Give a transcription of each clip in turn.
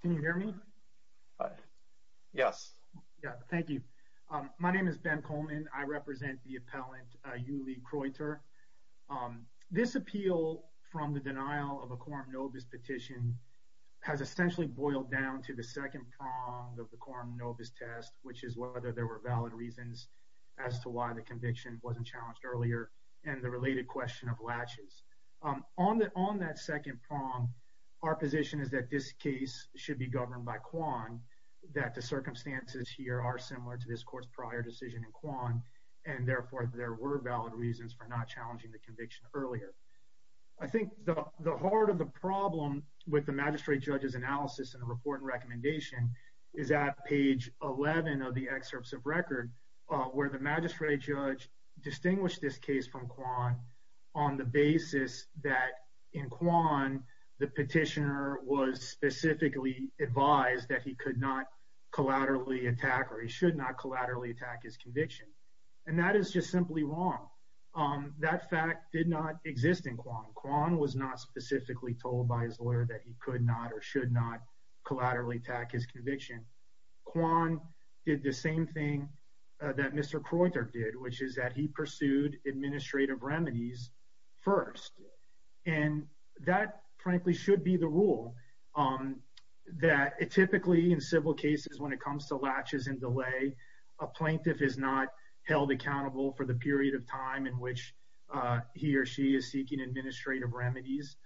Can you hear me? Yes. Thank you. My name is Ben Coleman. I represent the appellant Yuly Kroytor. This appeal from the denial of a quorum nobis petition has essentially boiled down to the second prong of the quorum nobis test which is whether there were valid reasons as to why the conviction wasn't challenged earlier and the related question of latches. On that second prong our position is that this case should be governed by Kwan that the circumstances here are similar to this court's prior decision in Kwan and therefore there were valid reasons for not challenging the conviction earlier. I think the heart of the problem with the magistrate judge's analysis in the report and recommendation is at page 11 of the excerpts of record where the magistrate judge distinguished this case from Kwan on the basis that in Kwan the petitioner was specifically advised that he could not collaterally attack or he should not collaterally attack his conviction and that is just simply wrong. That fact did not exist in Kwan. Kwan was not specifically told by his lawyer that he could not or should not collaterally attack his conviction. Kwan did the same thing that Mr. Kroytor did which is that he pursued administrative remedies first and that frankly should be the rule that it typically in civil cases when it comes to latches and delay a plaintiff is not held accountable for the period of time in which he or she is seeking administrative remedies.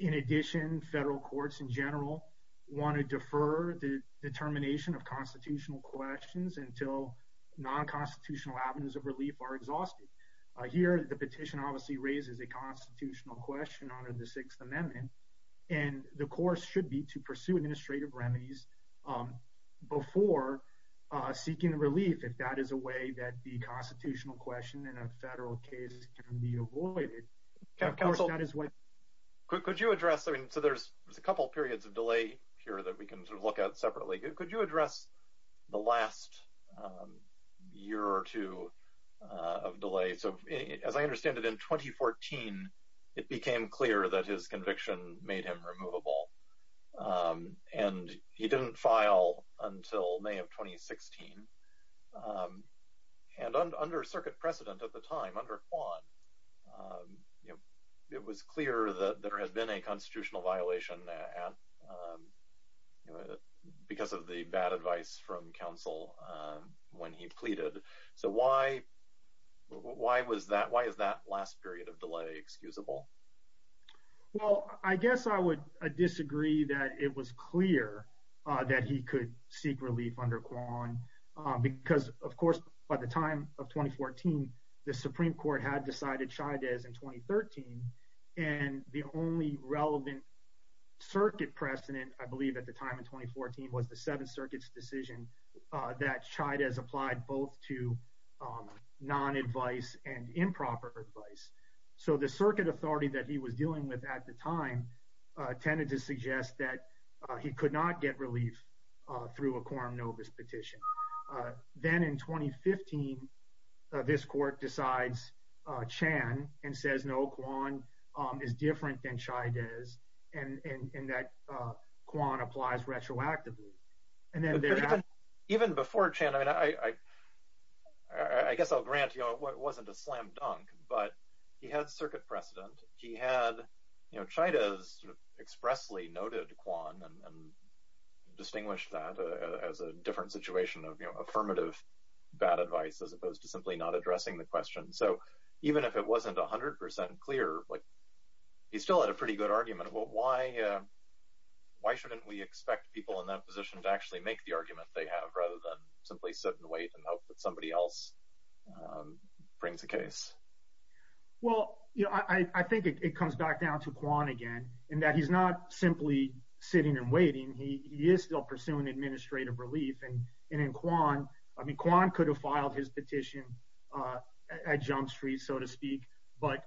In addition federal courts in general want to defer the determination of constitutional questions until non-constitutional avenues of relief are here. The petition obviously raises a constitutional question under the Sixth Amendment and the course should be to pursue administrative remedies before seeking relief if that is a way that the constitutional question in a federal case can be avoided. Could you address I mean so there's a couple periods of delay here that we can look at separately. Could you address the last year or two of delay so as I understand it in 2014 it became clear that his conviction made him removable and he didn't file until May of 2016 and under circuit precedent at the time under Kwan you know it was clear that there has been a constitutional violation and because of the bad advice from counsel when he pleaded so why why was that why is that last period of delay excusable? Well I guess I would disagree that it was clear that he could seek relief under Kwan because of course by the time of 2014 the Supreme Court had decided Chaidez in 2013 and the only relevant circuit precedent I believe at the time in 2014 was the Seventh Circuit's decision that Chaidez applied both to non-advice and improper advice so the circuit authority that he was dealing with at the time tended to suggest that he could not get relief through a quorum novis petition. Then in 2015 this court decides Chan and says no Kwan is different than Chaidez and that Kwan applies retroactively. Even before Chan I mean I I guess I'll grant you know it wasn't a slam dunk but he had circuit precedent he had you know Chaidez expressly noted Kwan and distinguished that as a different situation of you know affirmative bad advice as opposed to simply not addressing the question so even if it wasn't a hundred percent clear but he still had a pretty good argument well why why shouldn't we expect people in that position to actually make the argument they have rather than simply sit and wait and hope that somebody else brings a case? Well you know I think it comes back down to Kwan again and that he's not simply sitting and waiting he is still pursuing administrative relief and in Kwan I mean Kwan could have petitioned at Jump Street so to speak but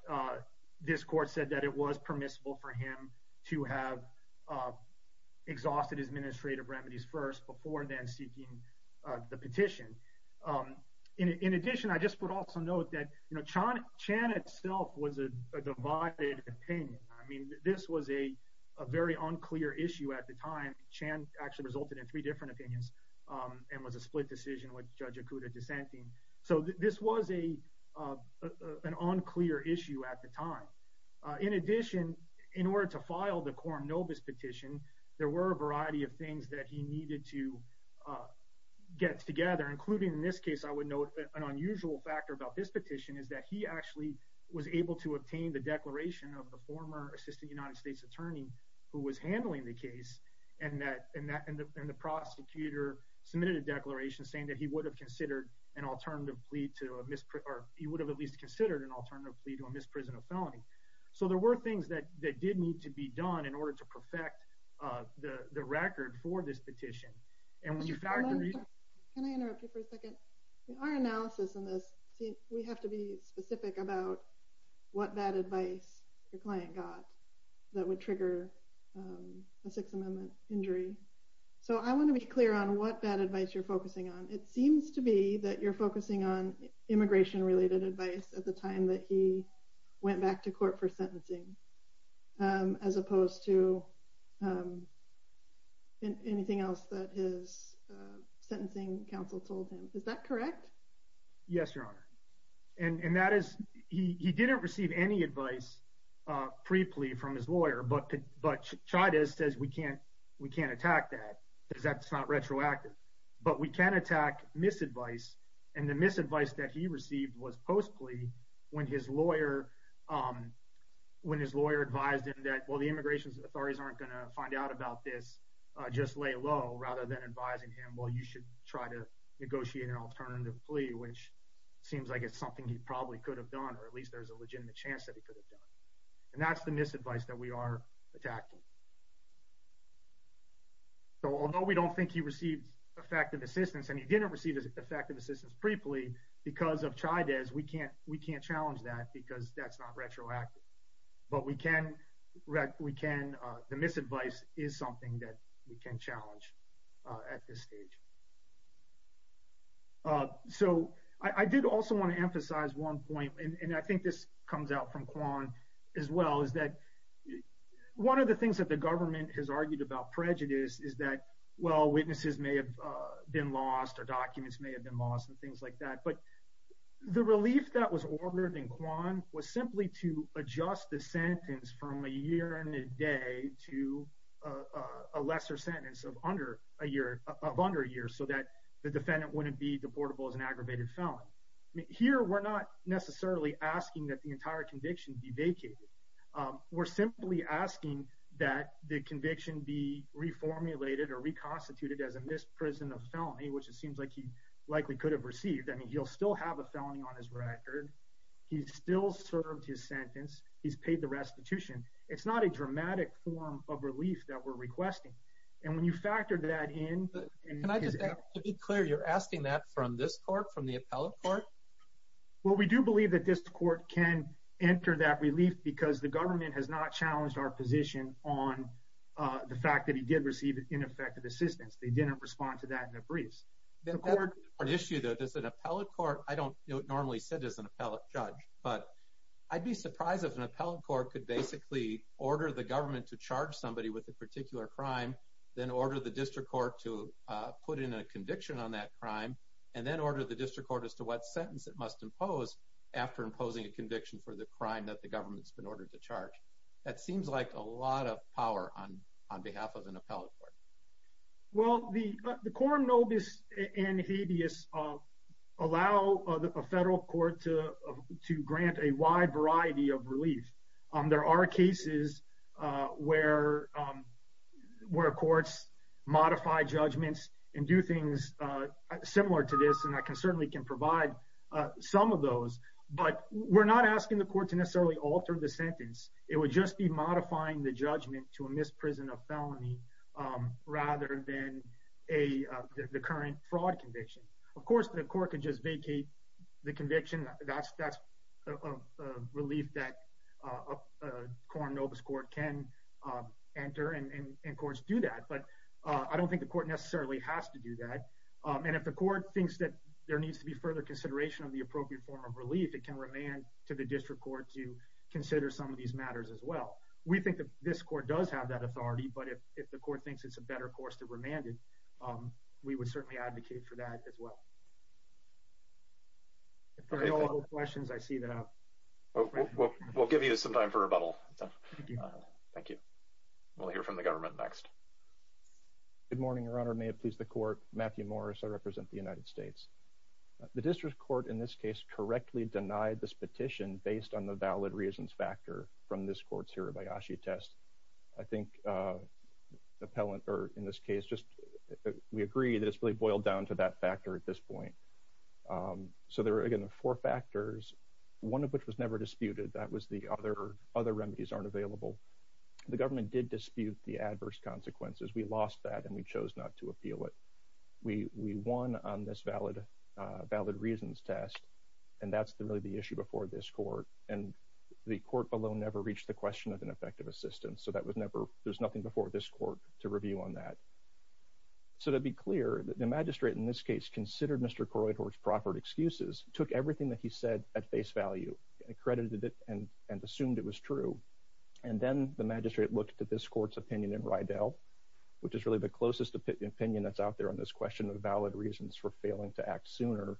this court said that it was permissible for him to have exhausted his administrative remedies first before then seeking the petition. In addition I just would also note that you know Chan Chan itself was a divided opinion I mean this was a very unclear issue at the time Chan actually resulted in three different opinions and was a split decision with Judge Okuda dissenting so this was a an unclear issue at the time. In addition in order to file the quorum novus petition there were a variety of things that he needed to get together including in this case I would note an unusual factor about this petition is that he actually was able to obtain the declaration of the former assistant United States attorney who was handling the case and that and that and the prosecutor submitted a declaration saying that he would have considered an alternative plea to a misprison or he would have at least considered an alternative plea to a misprison of felony. So there were things that that did need to be done in order to perfect the record for this petition and when you factor in. Can I interrupt you for a second? Our analysis in this we have to be specific about what bad advice your Sixth Amendment injury so I want to be clear on what bad advice you're focusing on it seems to be that you're focusing on immigration related advice at the time that he went back to court for sentencing as opposed to anything else that his sentencing counsel told him is that correct? Yes your honor and and that is he didn't receive any advice pre plea from his lawyer but but Chan says we can't we can't attack that because that's not retroactive but we can attack misadvice and the misadvice that he received was post plea when his lawyer when his lawyer advised him that well the immigration authorities aren't going to find out about this just lay low rather than advising him well you should try to negotiate an alternative plea which seems like it's something he probably could have done or at least there's a legitimate chance that he could have done and that's the misadvice that we are attacking. So although we don't think he received effective assistance and he didn't receive effective assistance pre plea because of Chides we can't we can't challenge that because that's not retroactive but we can we can the misadvice is something that we can challenge at this stage. So I did also want to emphasize one point and I think this comes out from Kwan as well is that one of the things that the government has argued about prejudice is that well witnesses may have been lost or documents may have been lost and things like that but the relief that was ordered in Kwan was simply to adjust the sentence from a year and a day to a lesser sentence of under a year of under a year so that the defendant wouldn't be deportable as an aggravated felon. Here we're not necessarily asking that the entire conviction be vacated we're simply asking that the conviction be reformulated or reconstituted as a misprison of felony which it seems like he likely could have received I mean he'll still have a felony on his record he's still served his sentence he's paid the restitution it's not a dramatic form of relief that we're requesting and when well we do believe that this court can enter that relief because the government has not challenged our position on the fact that he did receive ineffective assistance they didn't respond to that in a briefs there's an appellate court I don't know it normally said as an appellate judge but I'd be surprised if an appellate court could basically order the government to charge somebody with a particular crime then order the district court to put in a conviction on that crime and then order the district court as to what sentence that must impose after imposing a conviction for the crime that the government's been ordered to charge that seems like a lot of power on on behalf of an appellate court well the the quorum nobis and habeas of allow the federal court to to grant a wide variety of relief on there are cases where where courts modify judgments and do things similar to this and I can certainly can provide some of those but we're not asking the court to necessarily alter the sentence it would just be modifying the judgment to a misprison of felony rather than a the current fraud conviction of course the court could just vacate the conviction that's that's a relief that a quorum nobis court can enter and of course do that but I don't think the court necessarily has to do that and if the court thinks that there needs to be further consideration of the appropriate form of relief it can remain to the district court to consider some of these matters as well we think that this court does have that authority but if the court thinks it's a better course to remanded we would certainly advocate for that as well questions I see that we'll give you some time for rebuttal thank you we'll hear from the government next good morning your honor may it please the court Matthew Morris I represent the United States the district court in this case correctly denied this petition based on the valid reasons factor from this court's hirabayashi test I think the pellant or in this case just we agree that it's really boiled down to that factor at this point so there are again the four factors one of which was never disputed that was the other other remedies aren't available the government did dispute the adverse consequences we lost that and we chose not to appeal it we we won on this valid valid reasons test and that's the really the issue before this court and the court below never reached the question of an effective assistance so that was never there's nothing before this court to review on that so to be clear that the magistrate in this case considered mr. Kroydhorst proffered excuses took everything that he said at face value accredited it and and assumed it was true and then the magistrate looked at this court's opinion in Rydell which is really the closest opinion opinion that's out there on this question of valid reasons for failing to act sooner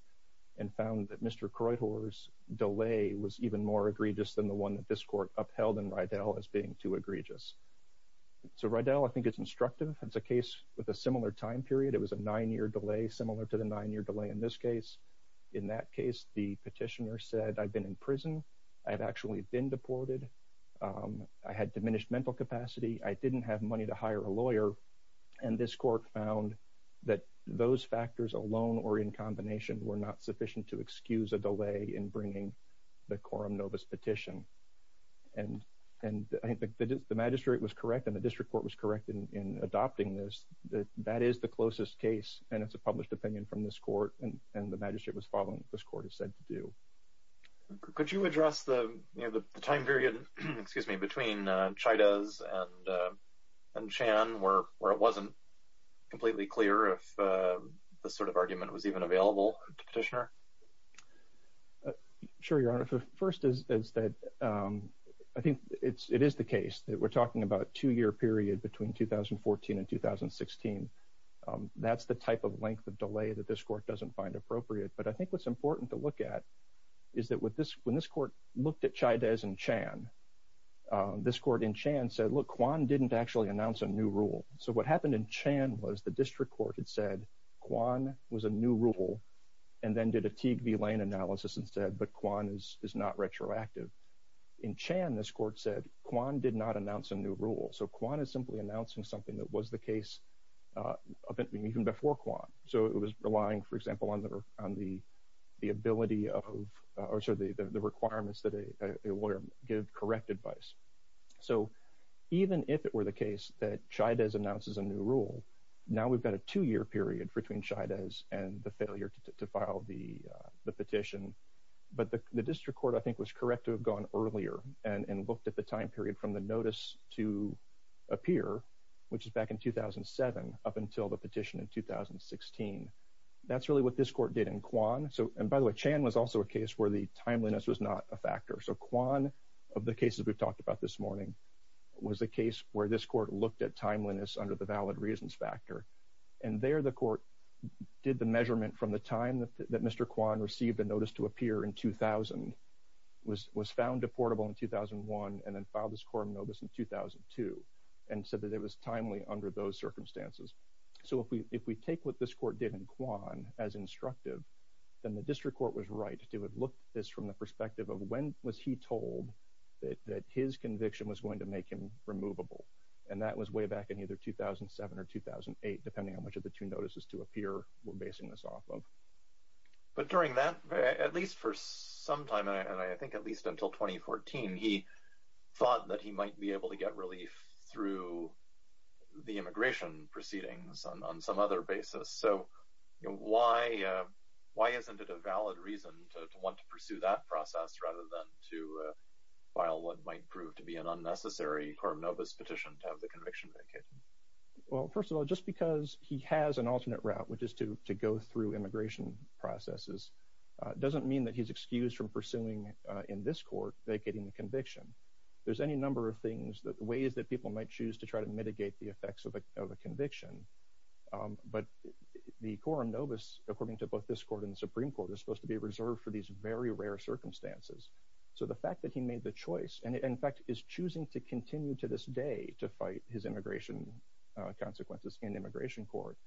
and found that mr. Kroydhorst delay was even more egregious than the one that this court upheld in Rydell as being too egregious so Rydell I think it's instructive it's a case with a similar time period it was a nine-year delay similar to the nine-year delay in this case in that case the petitioner said I've been in prison I've actually been deported I had diminished mental capacity I didn't have money to hire a lawyer and this court found that those factors alone or in combination were not sufficient to excuse a delay in bringing the quorum novus petition and and I think the magistrate was correct and the district court was correct in adopting this that that is the closest case and it's a published opinion from this court and and the magistrate was following this court is said to do could you address the time period excuse me between China's and and Chan where it wasn't completely clear if the sort of argument was even available petitioner sure your honor first is that I think it's it is the case that we're talking about two-year period between 2014 and 2016 that's the type of length of delay that this court doesn't find appropriate but I think what's important to look at is that with this when this court looked at chai days and Chan this court in Chan said look Quan didn't actually announce a new rule so what happened in Chan was the district court had said Quan was a new rule and then did a TV lane analysis and said but Quan is is not retroactive in Chan this court said Quan did not announce a new rule so Quan is simply announcing something that was the case even before Quan so it was relying for example under on the the of or so the the requirements that a lawyer give correct advice so even if it were the case that China's announces a new rule now we've got a two-year period between China's and the failure to file the the petition but the district court I think was correct to have gone earlier and and looked at the time period from the notice to appear which is back in 2007 up until the petition in 2016 that's really what this court did in Quan so and by the way Chan was also a case where the timeliness was not a factor so Quan of the cases we've talked about this morning was a case where this court looked at timeliness under the valid reasons factor and there the court did the measurement from the time that mr. Quan received a notice to appear in 2000 was was found deportable in 2001 and then filed this quorum notice in 2002 and said that it was timely under those circumstances so if we if we take what this court did in Quan as instructive then the district court was right to have looked this from the perspective of when was he told that that his conviction was going to make him removable and that was way back in either 2007 or 2008 depending on which of the two notices to appear we're basing this off of but during that at least for some time and I think at least until 2014 he thought that he might be relief through the immigration proceedings on some other basis so why why isn't it a valid reason to want to pursue that process rather than to file what might prove to be an unnecessary quorum notice petition to have the conviction vacated well first of all just because he has an alternate route which is to go through immigration processes doesn't mean that he's excused from pursuing in this court vacating the conviction there's any number of things that ways that people might choose to try to mitigate the effects of a conviction but the quorum notice according to both this court in the Supreme Court is supposed to be reserved for these very rare circumstances so the fact that he made the choice and in fact is choosing to continue to this day to fight his immigration consequences in immigration court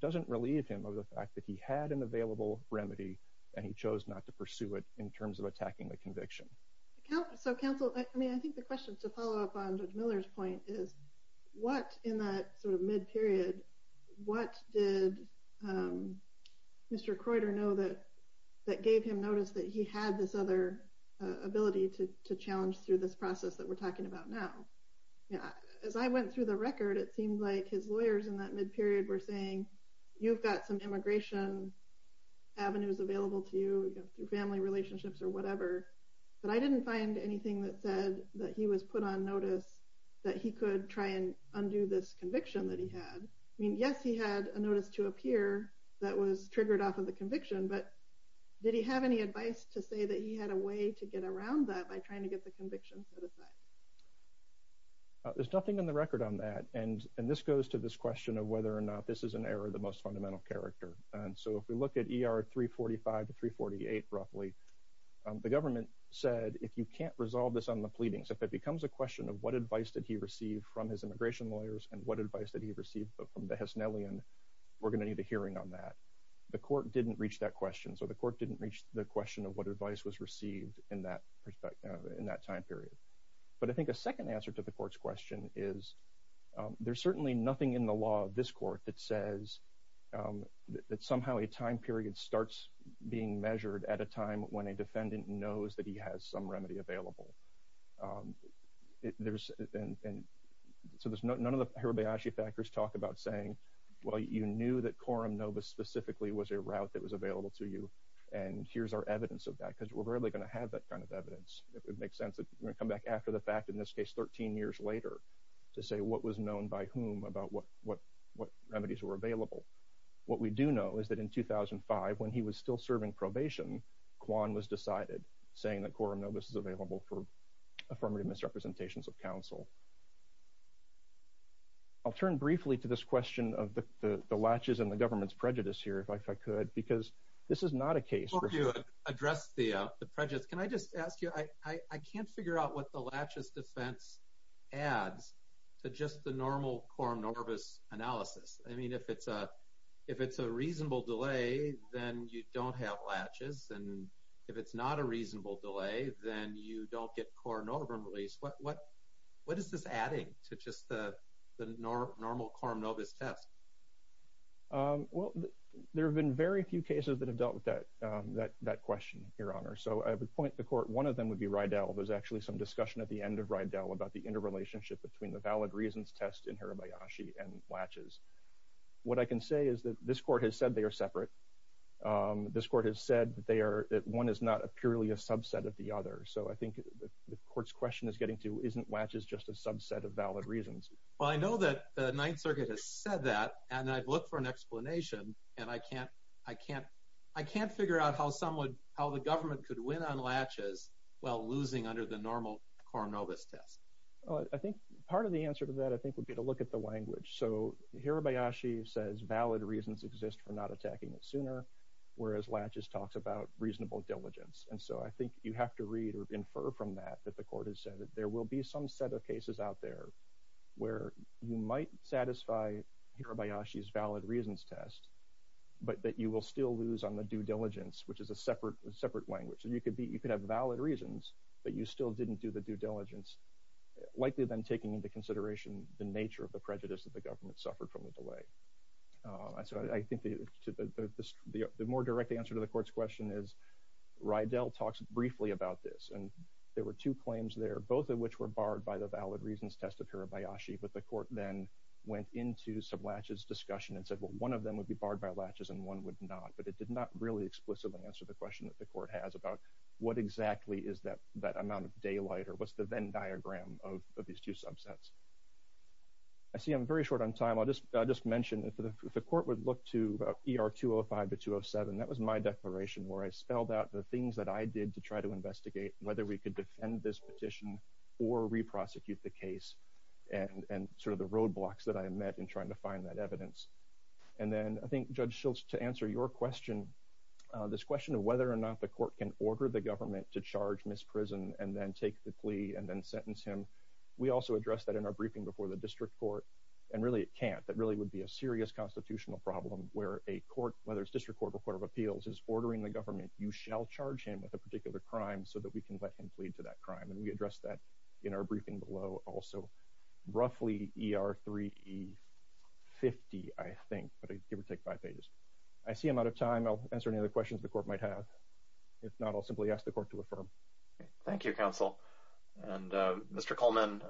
doesn't relieve him of the fact that he had an available remedy and he chose not to pursue it in terms of attacking the conviction so counsel I mean I think the question to follow up on judge Miller's point is what in that sort of mid period what did mr. Croyder know that that gave him notice that he had this other ability to challenge through this process that we're talking about now yeah as I went through the record it seemed like his lawyers in that mid period were saying you've got some immigration avenues available to you through family relationships or whatever but I didn't find anything that said that he was put on notice that he could try and undo this conviction that he had I mean yes he had a notice to appear that was triggered off of the conviction but did he have any advice to say that he had a way to get around that by trying to get the conviction set aside there's nothing in the record on that and and this goes to this question of whether or not this is an error the most fundamental character and so if we look at er 345 to 348 roughly the government said if you can't resolve this on the pleadings if it becomes a question of what advice did he receive from his immigration lawyers and what advice did he receive from the Hessnellion we're gonna need a hearing on that the court didn't reach that question so the court didn't reach the question of what advice was received in that perspective in that time period but I think a second answer to the court's question is there's certainly nothing in the law of this court that says that somehow a time period starts being that he has some remedy available there's and so there's none of the Hirabayashi factors talk about saying well you knew that quorum Nova specifically was a route that was available to you and here's our evidence of that because we're really gonna have that kind of evidence it would make sense that come back after the fact in this case 13 years later to say what was known by whom about what what what remedies were available what we do know is that in 2005 when he was still serving probation Quan was decided saying that quorum Novus is available for affirmative misrepresentations of counsel I'll turn briefly to this question of the latches and the government's prejudice here if I could because this is not a case where you address the prejudice can I just ask you I I can't figure out what the latches defense adds to just the normal quorum Novus analysis I mean if it's a if it's a reasonable delay then you don't have latches and if it's not a reasonable delay then you don't get quorum release what what what is this adding to just the normal quorum Novus test well there have been very few cases that have dealt with that that that question your honor so I would point the court one of them would be Rydell there's actually some discussion at the end of Rydell about the interrelationship between the valid reasons test in Hirabayashi and latches what I can say is that this court has said they are separate this court has said they are that one is not a purely a subset of the other so I think the courts question is getting to isn't latches just a subset of valid reasons well I know that the Ninth Circuit has said that and I'd look for an explanation and I can't I can't I can't figure out how someone how the government could win on latches while losing under the normal quorum Novus test I think part of the answer to that I think would be to look at the language so Hirabayashi says valid reasons exist for not attacking it sooner whereas latches talks about reasonable diligence and so I think you have to read or infer from that that the court has said that there will be some set of cases out there where you might satisfy Hirabayashi's valid reasons test but that you will still lose on the due diligence which is a separate separate language so you could be you could have valid reasons but you still didn't do the due diligence likely than taking into consideration the nature of the government suffered from the delay so I think the more direct answer to the court's question is Rydell talks briefly about this and there were two claims there both of which were barred by the valid reasons test of Hirabayashi but the court then went into some latches discussion and said well one of them would be barred by latches and one would not but it did not really explicitly answer the question that the court has about what exactly is that that amount of daylight or what's the Venn diagram of these two subsets I see I'm very short on time I'll just I'll just mention if the court would look to er 205 to 207 that was my declaration where I spelled out the things that I did to try to investigate whether we could defend this petition or reprosecute the case and and sort of the roadblocks that I met in trying to find that evidence and then I think judge Schultz to answer your question this question of whether or not the court can order the government to charge misprison and then take the plea and then sentence him we also addressed that in our briefing before the district court and really it can't that really would be a serious constitutional problem where a court whether it's district court of appeals is ordering the government you shall charge him with a particular crime so that we can let him plead to that crime and we addressed that in our briefing below also roughly er 3e 50 I think but I give or take five pages I see him out I'll answer any other questions the court might have if not I'll simply ask the court to affirm thank you counsel and mr. Coleman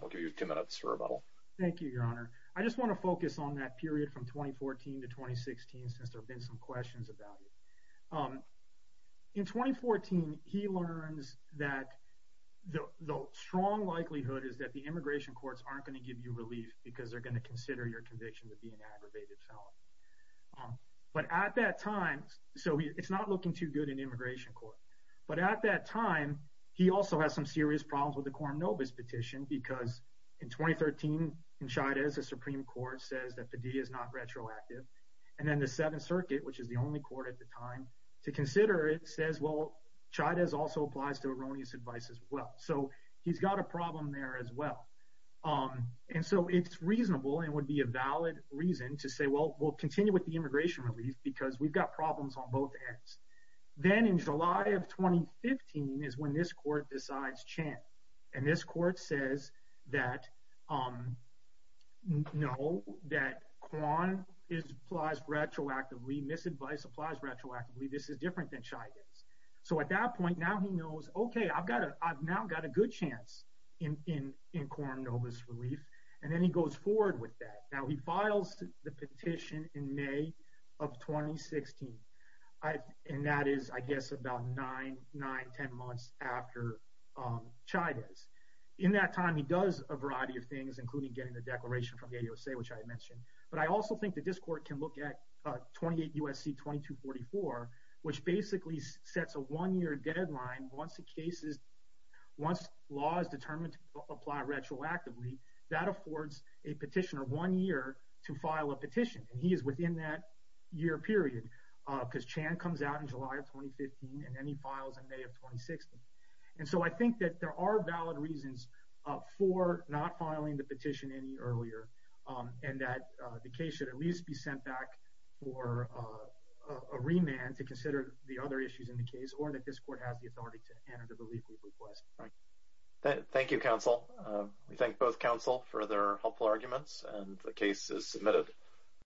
we'll give you two minutes for rebuttal thank you your honor I just want to focus on that period from 2014 to 2016 since there have been some questions about in 2014 he learns that the strong likelihood is that the immigration courts aren't going to give you relief because they're going to consider your conviction to be an so it's not looking too good in immigration court but at that time he also has some serious problems with the quorum Novus petition because in 2013 in China as a Supreme Court says that the D is not retroactive and then the Seventh Circuit which is the only court at the time to consider it says well China's also applies to erroneous advice as well so he's got a problem there as well um and so it's reasonable and would be a valid reason to say well we'll continue with the immigration relief because we've got problems on both ends then in July of 2015 is when this court decides chant and this court says that um no that Quan is applies retroactively misadvice applies retroactively this is different than shyness so at that point now he knows okay I've got a I've now got a good chance in in in quorum Novus relief and then he goes forward with that now he files the petition in May of 2016 I and that is I guess about nine nine ten months after China's in that time he does a variety of things including getting the declaration from a USA which I had mentioned but I also think that this court can look at 28 USC 2244 which basically sets a one-year deadline once the cases once law is determined to apply retroactively that a petitioner one year to file a petition and he is within that year period because Chan comes out in July of 2015 and then he files in May of 2016 and so I think that there are valid reasons for not filing the petition any earlier and that the case should at least be sent back for a remand to consider the other issues in the case or that this court has the authority to consider helpful arguments and the case is submitted